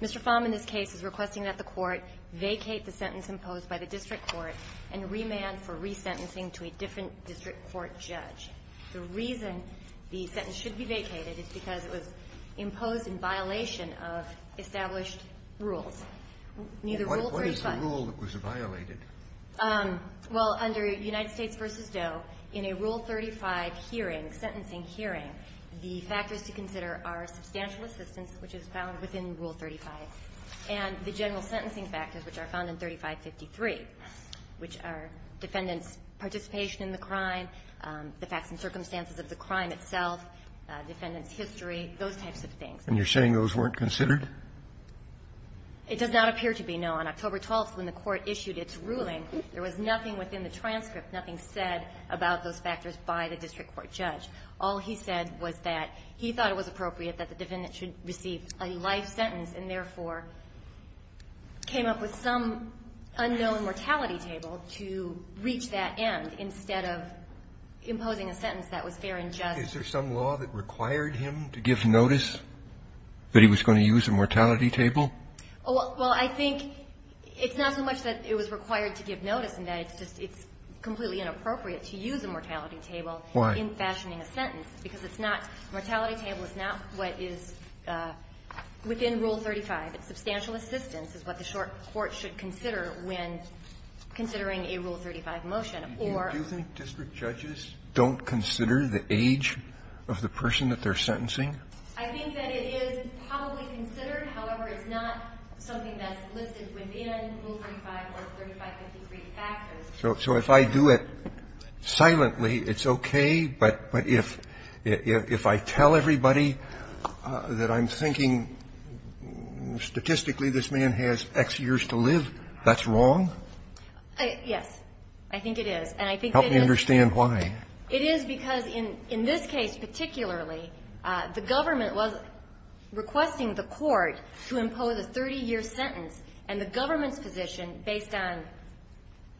Mr. Pham in this case is requesting that the court vacate the sentence imposed by the district court and remand for resentencing to a different district court judge. The reason the sentence should be vacated is because it was imposed in violation of established rules. Neither of those rules were violated. Ms. Baird. Well, under United States v. Doe, in a Rule 35 hearing, sentencing hearing, the factors to consider are substantial assistance, which is found within Rule 35, and the general sentencing factors, which are found in 3553, which are defendant's participation in the crime, the facts and circumstances of the crime itself, defendant's history, those types of things. Justice Breyer. And you're saying those weren't considered? It does not appear to be, no. On October 12th, when the court issued its ruling, there was nothing within the transcript, nothing said about those factors by the district court judge. All he said was that he thought it was appropriate that the defendant should receive a life sentence and, therefore, came up with some unknown mortality table to reach that end instead of imposing a sentence that was fair and just. Is there some law that required him to give notice that he was going to use a mortal table? Well, I think it's not so much that it was required to give notice and that it's just, it's completely inappropriate to use a mortality table in fashioning a sentence, because it's not, a mortality table is not what is within Rule 35. Substantial assistance is what the court should consider when considering a Rule 35 motion, or. Do you think district judges don't consider the age of the person that they're sentencing? I think that it is probably considered. However, it's not something that's listed within Rule 35 or 3553 factors. So if I do it silently, it's okay, but if I tell everybody that I'm thinking statistically this man has X years to live, that's wrong? Yes. I think it is. And I think that is. Help me understand why. It is because in this case particularly, the government was requesting the court to impose a 30-year sentence, and the government's position, based on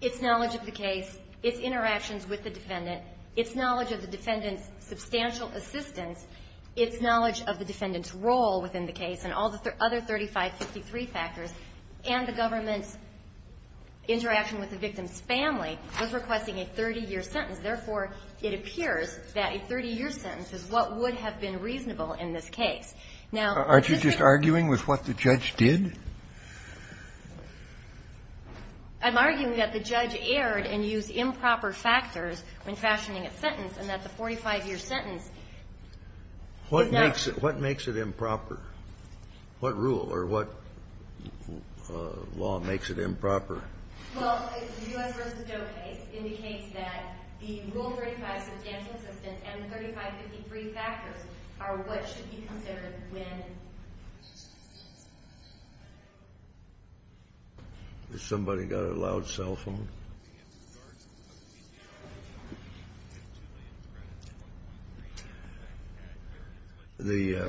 its knowledge of the case, its interactions with the defendant, its knowledge of the defendant's substantial assistance, its knowledge of the defendant's role within the case and all the other 3553 factors, and the government's with the victim's family, was requesting a 30-year sentence. Therefore, it appears that a 30-year sentence is what would have been reasonable in this case. Now, this is just the case. Aren't you just arguing with what the judge did? I'm arguing that the judge erred and used improper factors when fashioning a sentence, and that the 45-year sentence is not. What makes it improper? What rule or what law makes it improper? Well, the U.S. v. Doe case indicates that the Rule 35 substantial assistance and the 3553 factors are what should be considered when. Has somebody got a loud cell phone? The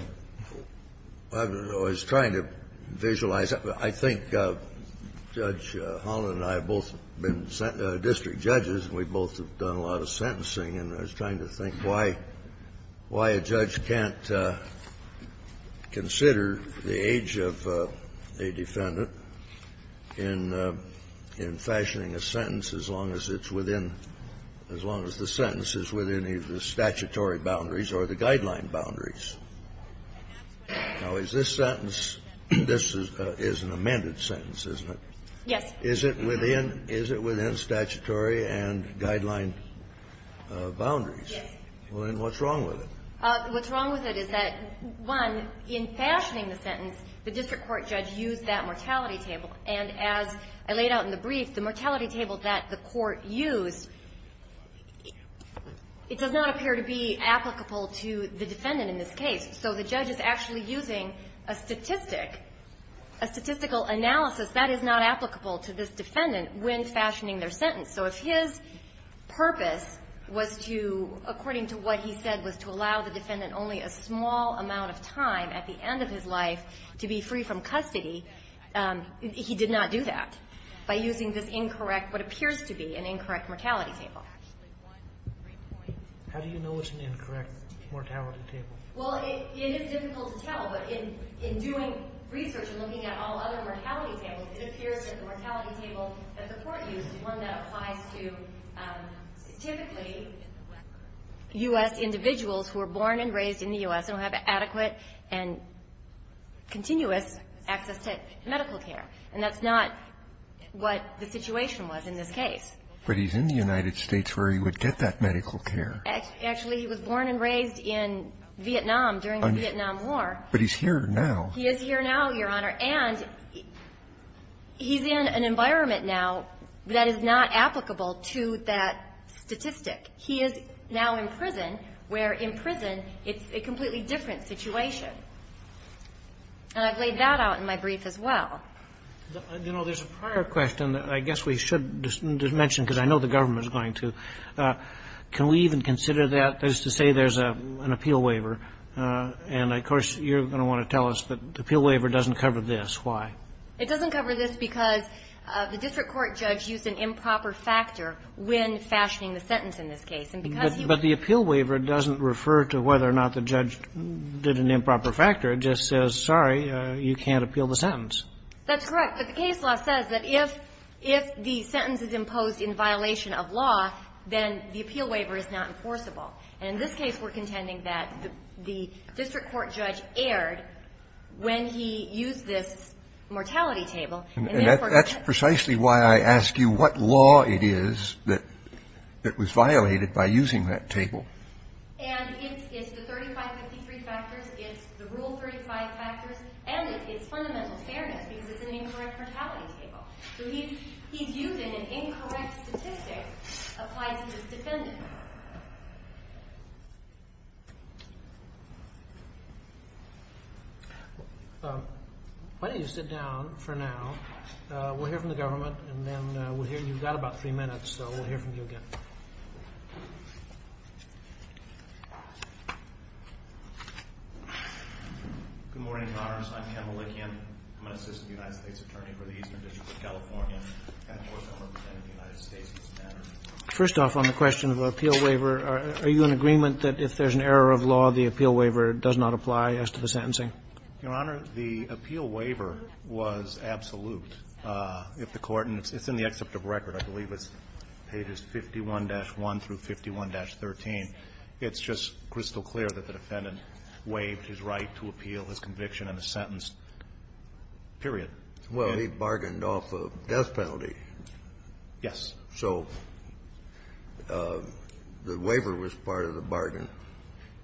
---- I was trying to visualize. I think Judge Holland and I have both been district judges, and we both have done a lot of sentencing, and I was trying to think why a judge can't consider the age of a defendant in fashioning a sentence as long as it's within, as long as the sentence is within either the statutory boundaries or the guideline boundaries. Now, is this sentence, this is an amended sentence, isn't it? Yes. Is it within, is it within statutory and guideline boundaries? Yes. Well, then what's wrong with it? What's wrong with it is that, one, in fashioning the sentence, the district court judge used that mortality table, and as I laid out in the brief, the mortality table that the court used, it does not appear to be applicable to the defendant in this case. So the judge is actually using a statistic, a statistical analysis that is not applicable to this defendant when fashioning their sentence. So if his purpose was to, according to what he said, was to allow the defendant only a small amount of time at the end of his life to be free from custody, he did not do that by using this incorrect, what appears to be an incorrect mortality table. How do you know it's an incorrect mortality table? Well, it is difficult to tell, but in doing research and looking at all other mortality tables, it appears that the mortality table that the court used is one that applies to typically U.S. individuals who were born and raised in the U.S. and who have adequate and continuous access to medical care. And that's not what the situation was in this case. But he's in the United States where he would get that medical care. Actually, he was born and raised in Vietnam during the Vietnam War. But he's here now. He is here now, Your Honor. And he's in an environment now that is not applicable to that statistic. He is now in prison, where in prison it's a completely different situation. And I've laid that out in my brief as well. You know, there's a prior question that I guess we should mention, because I know the government is going to. Can we even consider that as to say there's an appeal waiver? And, of course, you're going to want to tell us that the appeal waiver doesn't cover this. Why? It doesn't cover this because the district court judge used an improper factor when fashioning the sentence in this case. But the appeal waiver doesn't refer to whether or not the judge did an improper factor. It just says, sorry, you can't appeal the sentence. That's correct. But the case law says that if the sentence is imposed in violation of law, then the appeal waiver is not enforceable. And in this case, we're contending that the district court judge erred when he used this mortality table. And that's precisely why I ask you what law it is that was violated by using that table. And it's the 3553 factors. It's the Rule 35 factors. And it's fundamental fairness, because it's an incorrect mortality table. So he's using an incorrect statistic applied to his defendant. Why don't you sit down for now. We'll hear from the government. And then you've got about three minutes. So we'll hear from you again. Good morning, Your Honors. I'm Ken Malikian. I'm an assistant United States attorney for the Eastern District of California. And of course, I'm representing the United States in this matter. First off, on the question of appeal waiver, are you in agreement that if there's an error of law, the appeal waiver does not apply as to the sentencing? Your Honor, the appeal waiver was absolute. If the court, and it's in the except of record, I believe it's pages 51-1 through 51-13, it's just crystal clear that the defendant waived his right to appeal his conviction on a sentence, period. Well, he bargained off a death penalty. Yes. So the waiver was part of the bargain.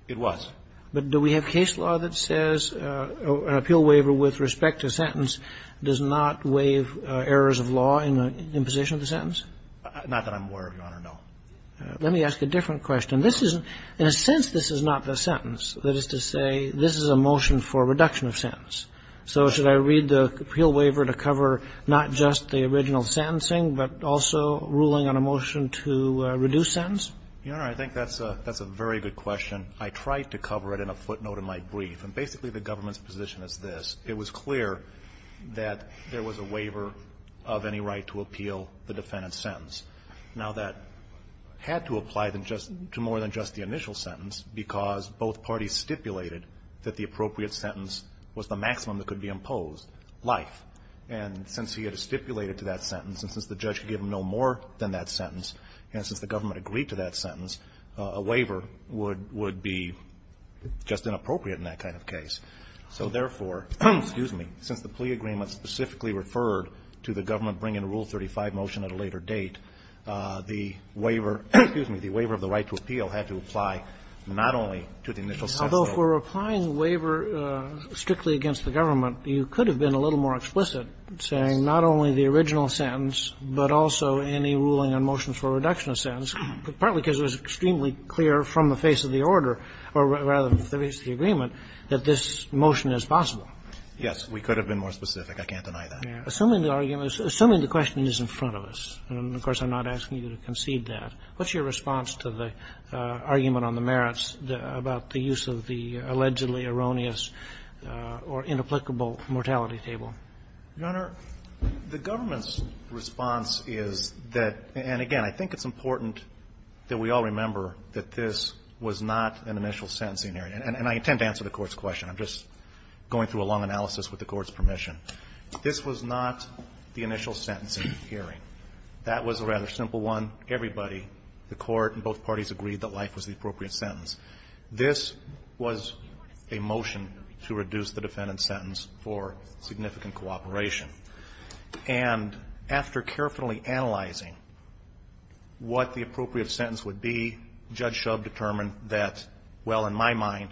It was. But do we have case law that says an appeal waiver with respect to sentence does not waive errors of law in position of the sentence? Not that I'm aware of, Your Honor, no. Let me ask a different question. This is, in a sense, this is not the sentence. That is to say, this is a motion for reduction of sentence. So should I read the appeal waiver to cover not just the original sentencing, but also ruling on a motion to reduce sentence? Your Honor, I think that's a very good question. I tried to cover it in a footnote in my brief. And basically, the government's position is this. It was clear that there was a waiver of any right to appeal the defendant's sentence. Now, that had to apply to just, to more than just the initial sentence, because both parties stipulated that the appropriate sentence was the maximum that could be imposed, life. And since he had stipulated to that sentence, and since the judge could give him no more than that sentence, and since the government agreed to that sentence, a waiver would be just inappropriate in that kind of case. So therefore, excuse me, since the plea agreement specifically referred to the government bringing a Rule 35 motion at a later date, the waiver, excuse me, the waiver of the right to appeal had to apply not only to the initial sentence. Although, for applying the waiver strictly against the government, you could have been a little more explicit, saying not only the original sentence, but also any ruling on motions for reduction of sentence, partly because it was extremely clear from the basis of the order, or rather, the basis of the agreement, that this motion is possible. Yes. We could have been more specific. I can't deny that. Assuming the argument is – assuming the question is in front of us, and of course, I'm not asking you to concede that. What's your response to the argument on the merits about the use of the allegedly erroneous or inapplicable mortality table? Your Honor, the government's response is that – and again, I think it's important that we all remember that this was not an initial sentencing hearing. And I intend to answer the Court's question. I'm just going through a long analysis with the Court's permission. This was not the initial sentencing hearing. That was a rather simple one. Everybody, the Court, and both parties agreed that life was the appropriate sentence. This was a motion to reduce the defendant's sentence for significant cooperation. And after carefully analyzing what the appropriate sentence would be, Judge Shub determined that, well, in my mind,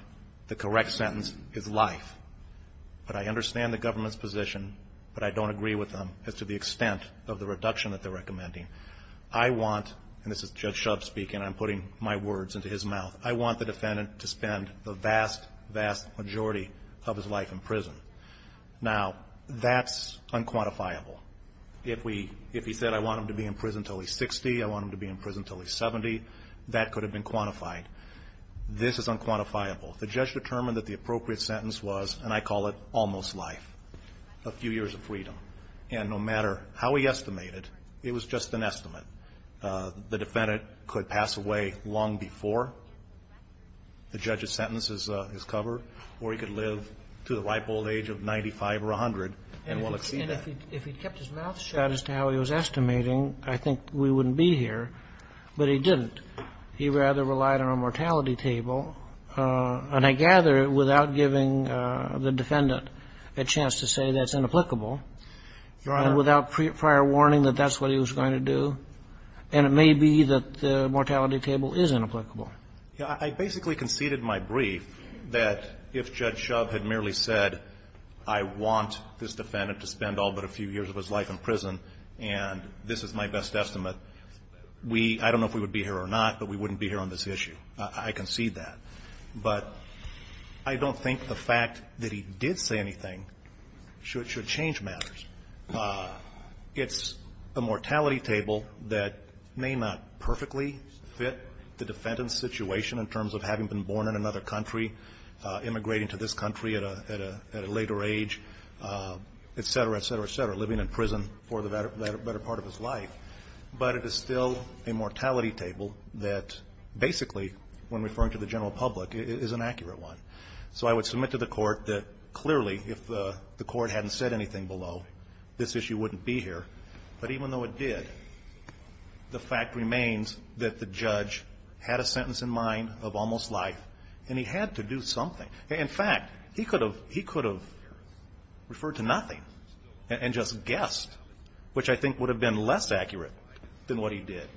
the correct sentence is life. But I understand the government's position, but I don't agree with them as to the extent of the reduction that they're recommending. I want – and this is Judge Shub speaking. I'm putting my words into his mouth. I want the defendant to spend the vast, vast majority of his life in prison. Now, that's unquantifiable. If we – if he said, I want him to be in prison until he's 60, I want him to be in prison until he's 70, that could have been quantified. This is unquantifiable. The judge determined that the appropriate sentence was, and I call it, almost life, a few years of freedom. And no matter how he estimated, it was just an estimate. The defendant could pass away long before the judge's sentence is covered, or he could live to the ripe old age of 95 or 100 and will exceed that. And if he kept his mouth shut as to how he was estimating, I think we wouldn't be here. But he didn't. He rather relied on a mortality table. And I gather, without giving the defendant a chance to say that's inapplicable, and without prior warning that that's what he was going to do, and it may be that the mortality table is inapplicable. I basically conceded in my brief that if Judge Shove had merely said, I want this defendant to spend all but a few years of his life in prison, and this is my best estimate, we – I don't know if we would be here or not, but we wouldn't be here on this issue. I concede that. But I don't think the fact that he did say anything should change matters. It's a mortality table that may not perfectly fit the defendant's situation in terms of having been born in another country, immigrating to this country at a later age, et cetera, et cetera, et cetera, living in prison for the better part of his life, but it is still a mortality table that basically, when referring to the general public, is an accurate one. So I would submit to the Court that clearly, if the Court hadn't said anything below, this issue wouldn't be here, but even though it did, the fact remains that the judge had a sentence in mind of almost life, and he had to do something. In fact, he could have – he could have referred to nothing and just guessed, which I think would have been less accurate than what he did.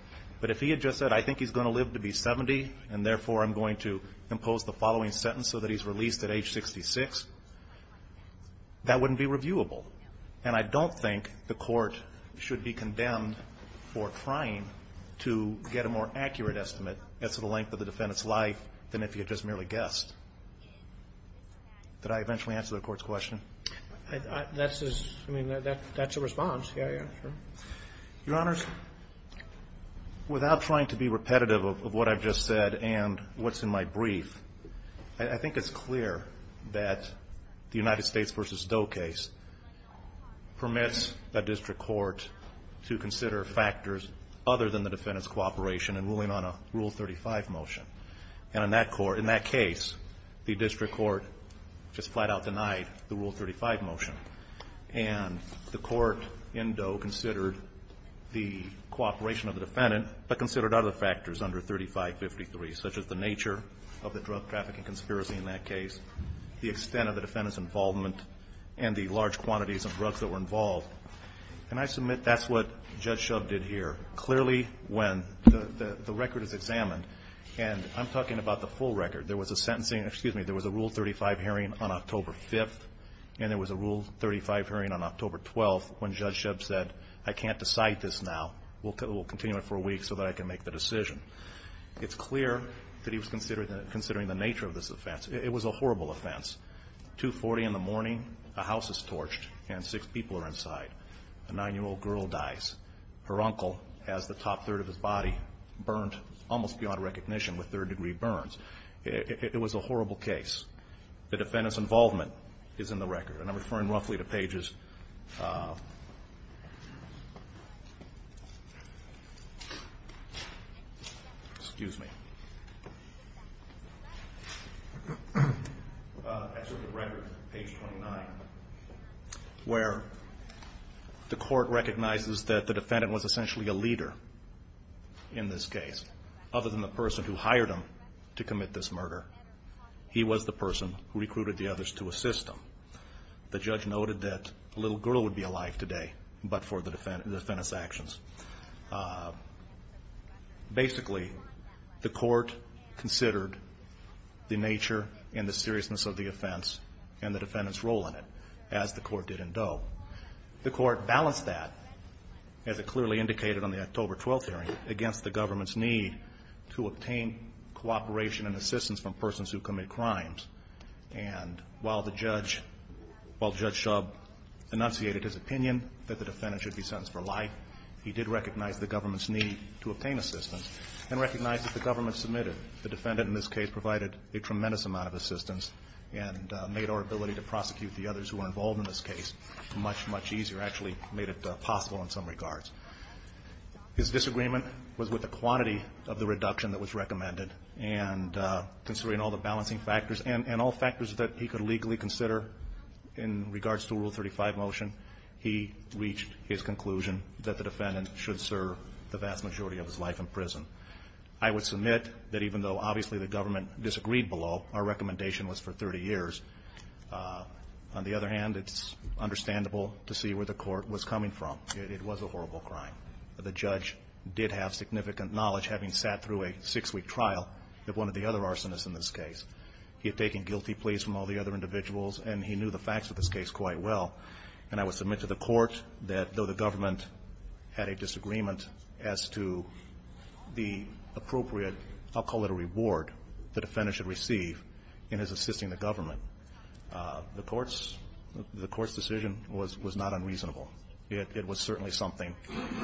But if he had just said, I think he's going to live to be 70, and therefore, I'm going to impose the following sentence so that he's released at age 66, that wouldn't be reviewable. And I don't think the Court should be condemned for trying to get a more accurate estimate as to the length of the defendant's life than if he had just merely guessed. Did I eventually answer the Court's question? That's his – I mean, that's a response. Yeah, yeah, sure. Your Honors, without trying to be repetitive of what I've just said and what's in my brief, I think it's clear that the United States v. Doe case permits the district court to consider factors other than the defendant's cooperation in ruling on a Rule 35 motion. And in that court – in that case, the district court just flat-out denied the cooperation of the defendant, but considered other factors under 3553, such as the nature of the drug trafficking conspiracy in that case, the extent of the defendant's involvement, and the large quantities of drugs that were involved. And I submit that's what Judge Shub did here. Clearly, when the record is examined – and I'm talking about the full record. There was a sentencing – excuse me. There was a Rule 35 hearing on October 5th, and there was a Rule 35 hearing on October 12th, when Judge Shub said, I can't decide this now. We'll continue it for a week so that I can make the decision. It's clear that he was considering the nature of this offense. It was a horrible offense. 240 in the morning, a house is torched, and six people are inside. A nine-year-old girl dies. Her uncle has the top third of his body burnt almost beyond recognition with third-degree burns. It was a horrible case. The defendant's involvement is in the record. And I'm referring roughly to pages – excuse me – as of the record, page 29, where the court recognizes that the defendant was essentially a leader in this case. Other than the person who hired him to commit this murder, he was the person who recruited the others to assist him. The judge noted that a little girl would be alive today, but for the defendant's actions. Basically, the court considered the nature and the seriousness of the offense and the defendant's role in it, as the court did in Doe. The court balanced that, as it clearly indicated on the October 12th hearing, against the government's need to obtain cooperation and assistance from persons who commit crimes. And while the judge – while Judge Shub enunciated his opinion that the defendant should be sentenced for life, he did recognize the government's need to obtain assistance and recognize that the government submitted. The defendant, in this case, provided a tremendous amount of assistance and made our ability to prosecute the others who were involved in this case much, much easier – actually made it possible in some regards. His disagreement was with the quantity of the reduction that was recommended. And considering all the balancing factors and all factors that he could legally consider in regards to Rule 35 motion, he reached his conclusion that the defendant should serve the vast majority of his life in prison. I would submit that even though, obviously, the government disagreed below, our recommendation was for 30 years. On the other hand, it's understandable to see where the court was coming from. It was a horrible crime. The judge did have significant knowledge, having sat through a six-week trial of one of the other arsonists in this case. He had taken guilty pleas from all the other individuals, and he knew the facts of this case quite well. And I would submit to the court that though the government had a disagreement as to the appropriate – I'll call it a reward – the defendant should receive in his assisting the government, the court's – the court's decision was not unreasonable. It was certainly something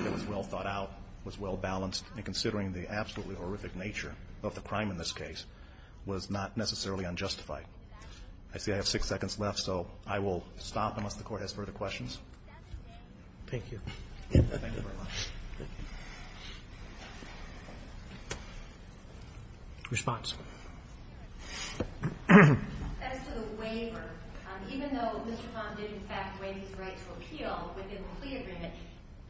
that was well thought out, was well balanced. And considering the absolutely horrific nature of the crime in this case was not necessarily unjustified. I see I have six seconds left, so I will stop unless the court has further questions. Thank you. Thank you very much. Response. As to the waiver, even though Mr. Tom did, in fact, waive his right to appeal within the plea agreement,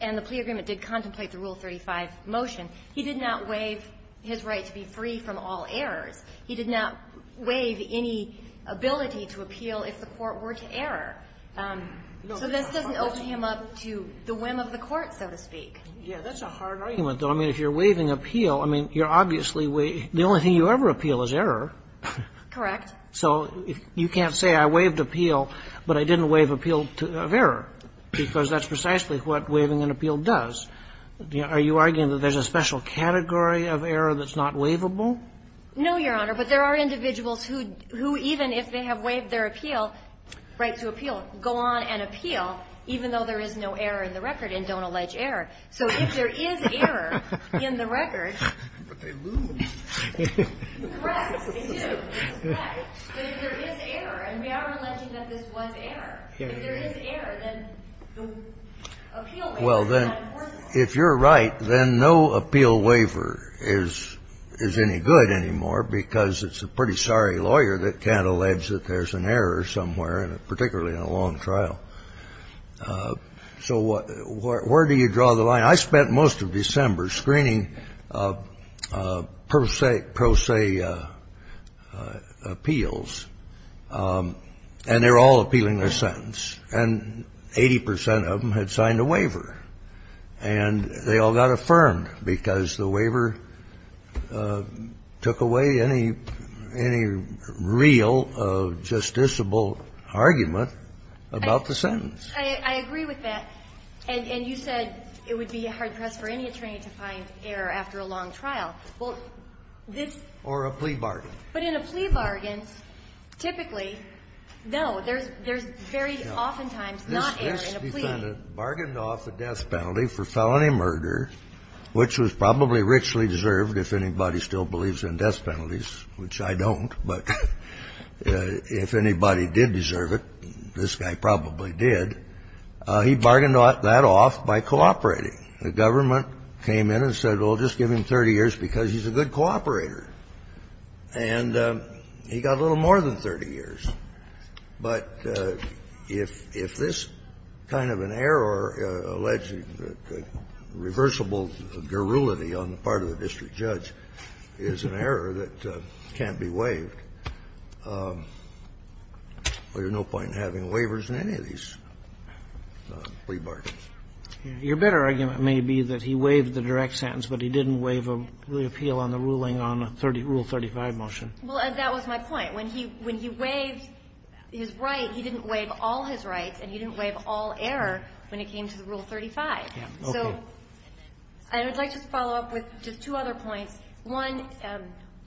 and the plea agreement did contemplate the Rule 35 motion, he did not waive his right to be free from all errors. He did not waive any ability to appeal if the court were to error. So this doesn't open him up to the whim of the court, so to speak. Yeah, that's a hard argument, though. I mean, if you're waiving appeal, I mean, you're obviously waiving – the only thing you ever appeal is error. Correct. So you can't say I waived appeal, but I didn't waive appeal of error, because that's precisely what waiving an appeal does. Are you arguing that there's a special category of error that's not waivable? No, Your Honor, but there are individuals who, even if they have waived their appeal – right to appeal – go on and appeal, even though there is no error in the record and don't allege error. So if there is error in the record – But they lose. Correct. They do. It's correct. But if there is error, and we are alleging that this was error, if there is error, then the appeal waiver is not enforceable. Well, then, if you're right, then no appeal waiver is any good anymore, because it's a pretty sorry lawyer that can't allege that there's an error somewhere, particularly in a long trial. So where do you draw the line? I mean, I spent most of December screening pro se appeals, and they were all appealing their sentence, and 80 percent of them had signed a waiver, and they all got affirmed, because the waiver took away any real justiciable argument about the sentence. I agree with that. And you said it would be hard press for any attorney to find error after a long trial. Well, this – Or a plea bargain. But in a plea bargain, typically, no. There's very oftentimes not error in a plea. This defendant bargained off a death penalty for felony murder, which was probably richly deserved if anybody still believes in death penalties, which I don't, but if anybody did deserve it, this guy probably did. He bargained that off by cooperating. The government came in and said, well, just give him 30 years, because he's a good cooperator. And he got a little more than 30 years. But if this kind of an error, alleged reversible guerrility on the part of the district judge, is an error that can't be waived, there's no point in having waivers in any of these plea bargains. Your better argument may be that he waived the direct sentence, but he didn't waive the appeal on the ruling on Rule 35 motion. Well, that was my point. When he waived his right, he didn't waive all his rights and he didn't waive all error when it came to the Rule 35. Okay. So I would like to follow up with just two other points. One,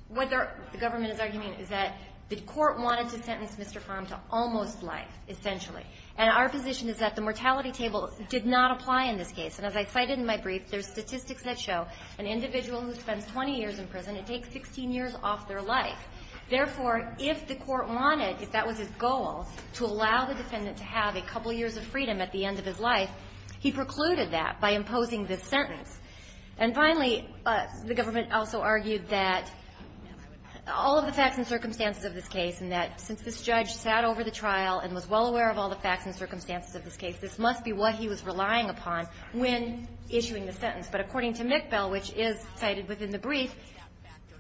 what the government is arguing is that the court wanted to sentence Mr. Farm to almost life, essentially. And our position is that the mortality table did not apply in this case. And as I cited in my brief, there's statistics that show an individual who spends 20 years in prison, it takes 16 years off their life. Therefore, if the court wanted, if that was his goal, to allow the defendant to have a couple years of freedom at the end of his life, he precluded that by imposing this sentence. And finally, the government also argued that all of the facts and circumstances of this case and that since this judge sat over the trial and was well aware of all the facts and circumstances of this case, this must be what he was relying upon when issuing the sentence. But according to McBell, which is cited within the brief,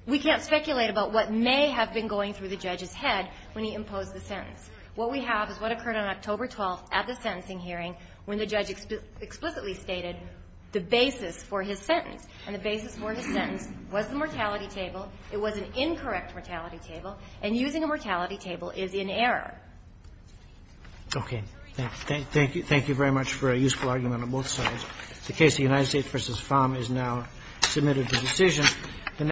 we can't speculate about what may have been going through the judge's head when he imposed the sentence. What we have is what occurred on October 12th at the sentencing hearing when the judge explicitly stated the basis for his sentence, and the basis for his sentence was the mortality table. It was an incorrect mortality table. And using a mortality table is in error. Okay. Thank you. Thank you very much for a useful argument on both sides. The case of United States v. Pham is now submitted to decision.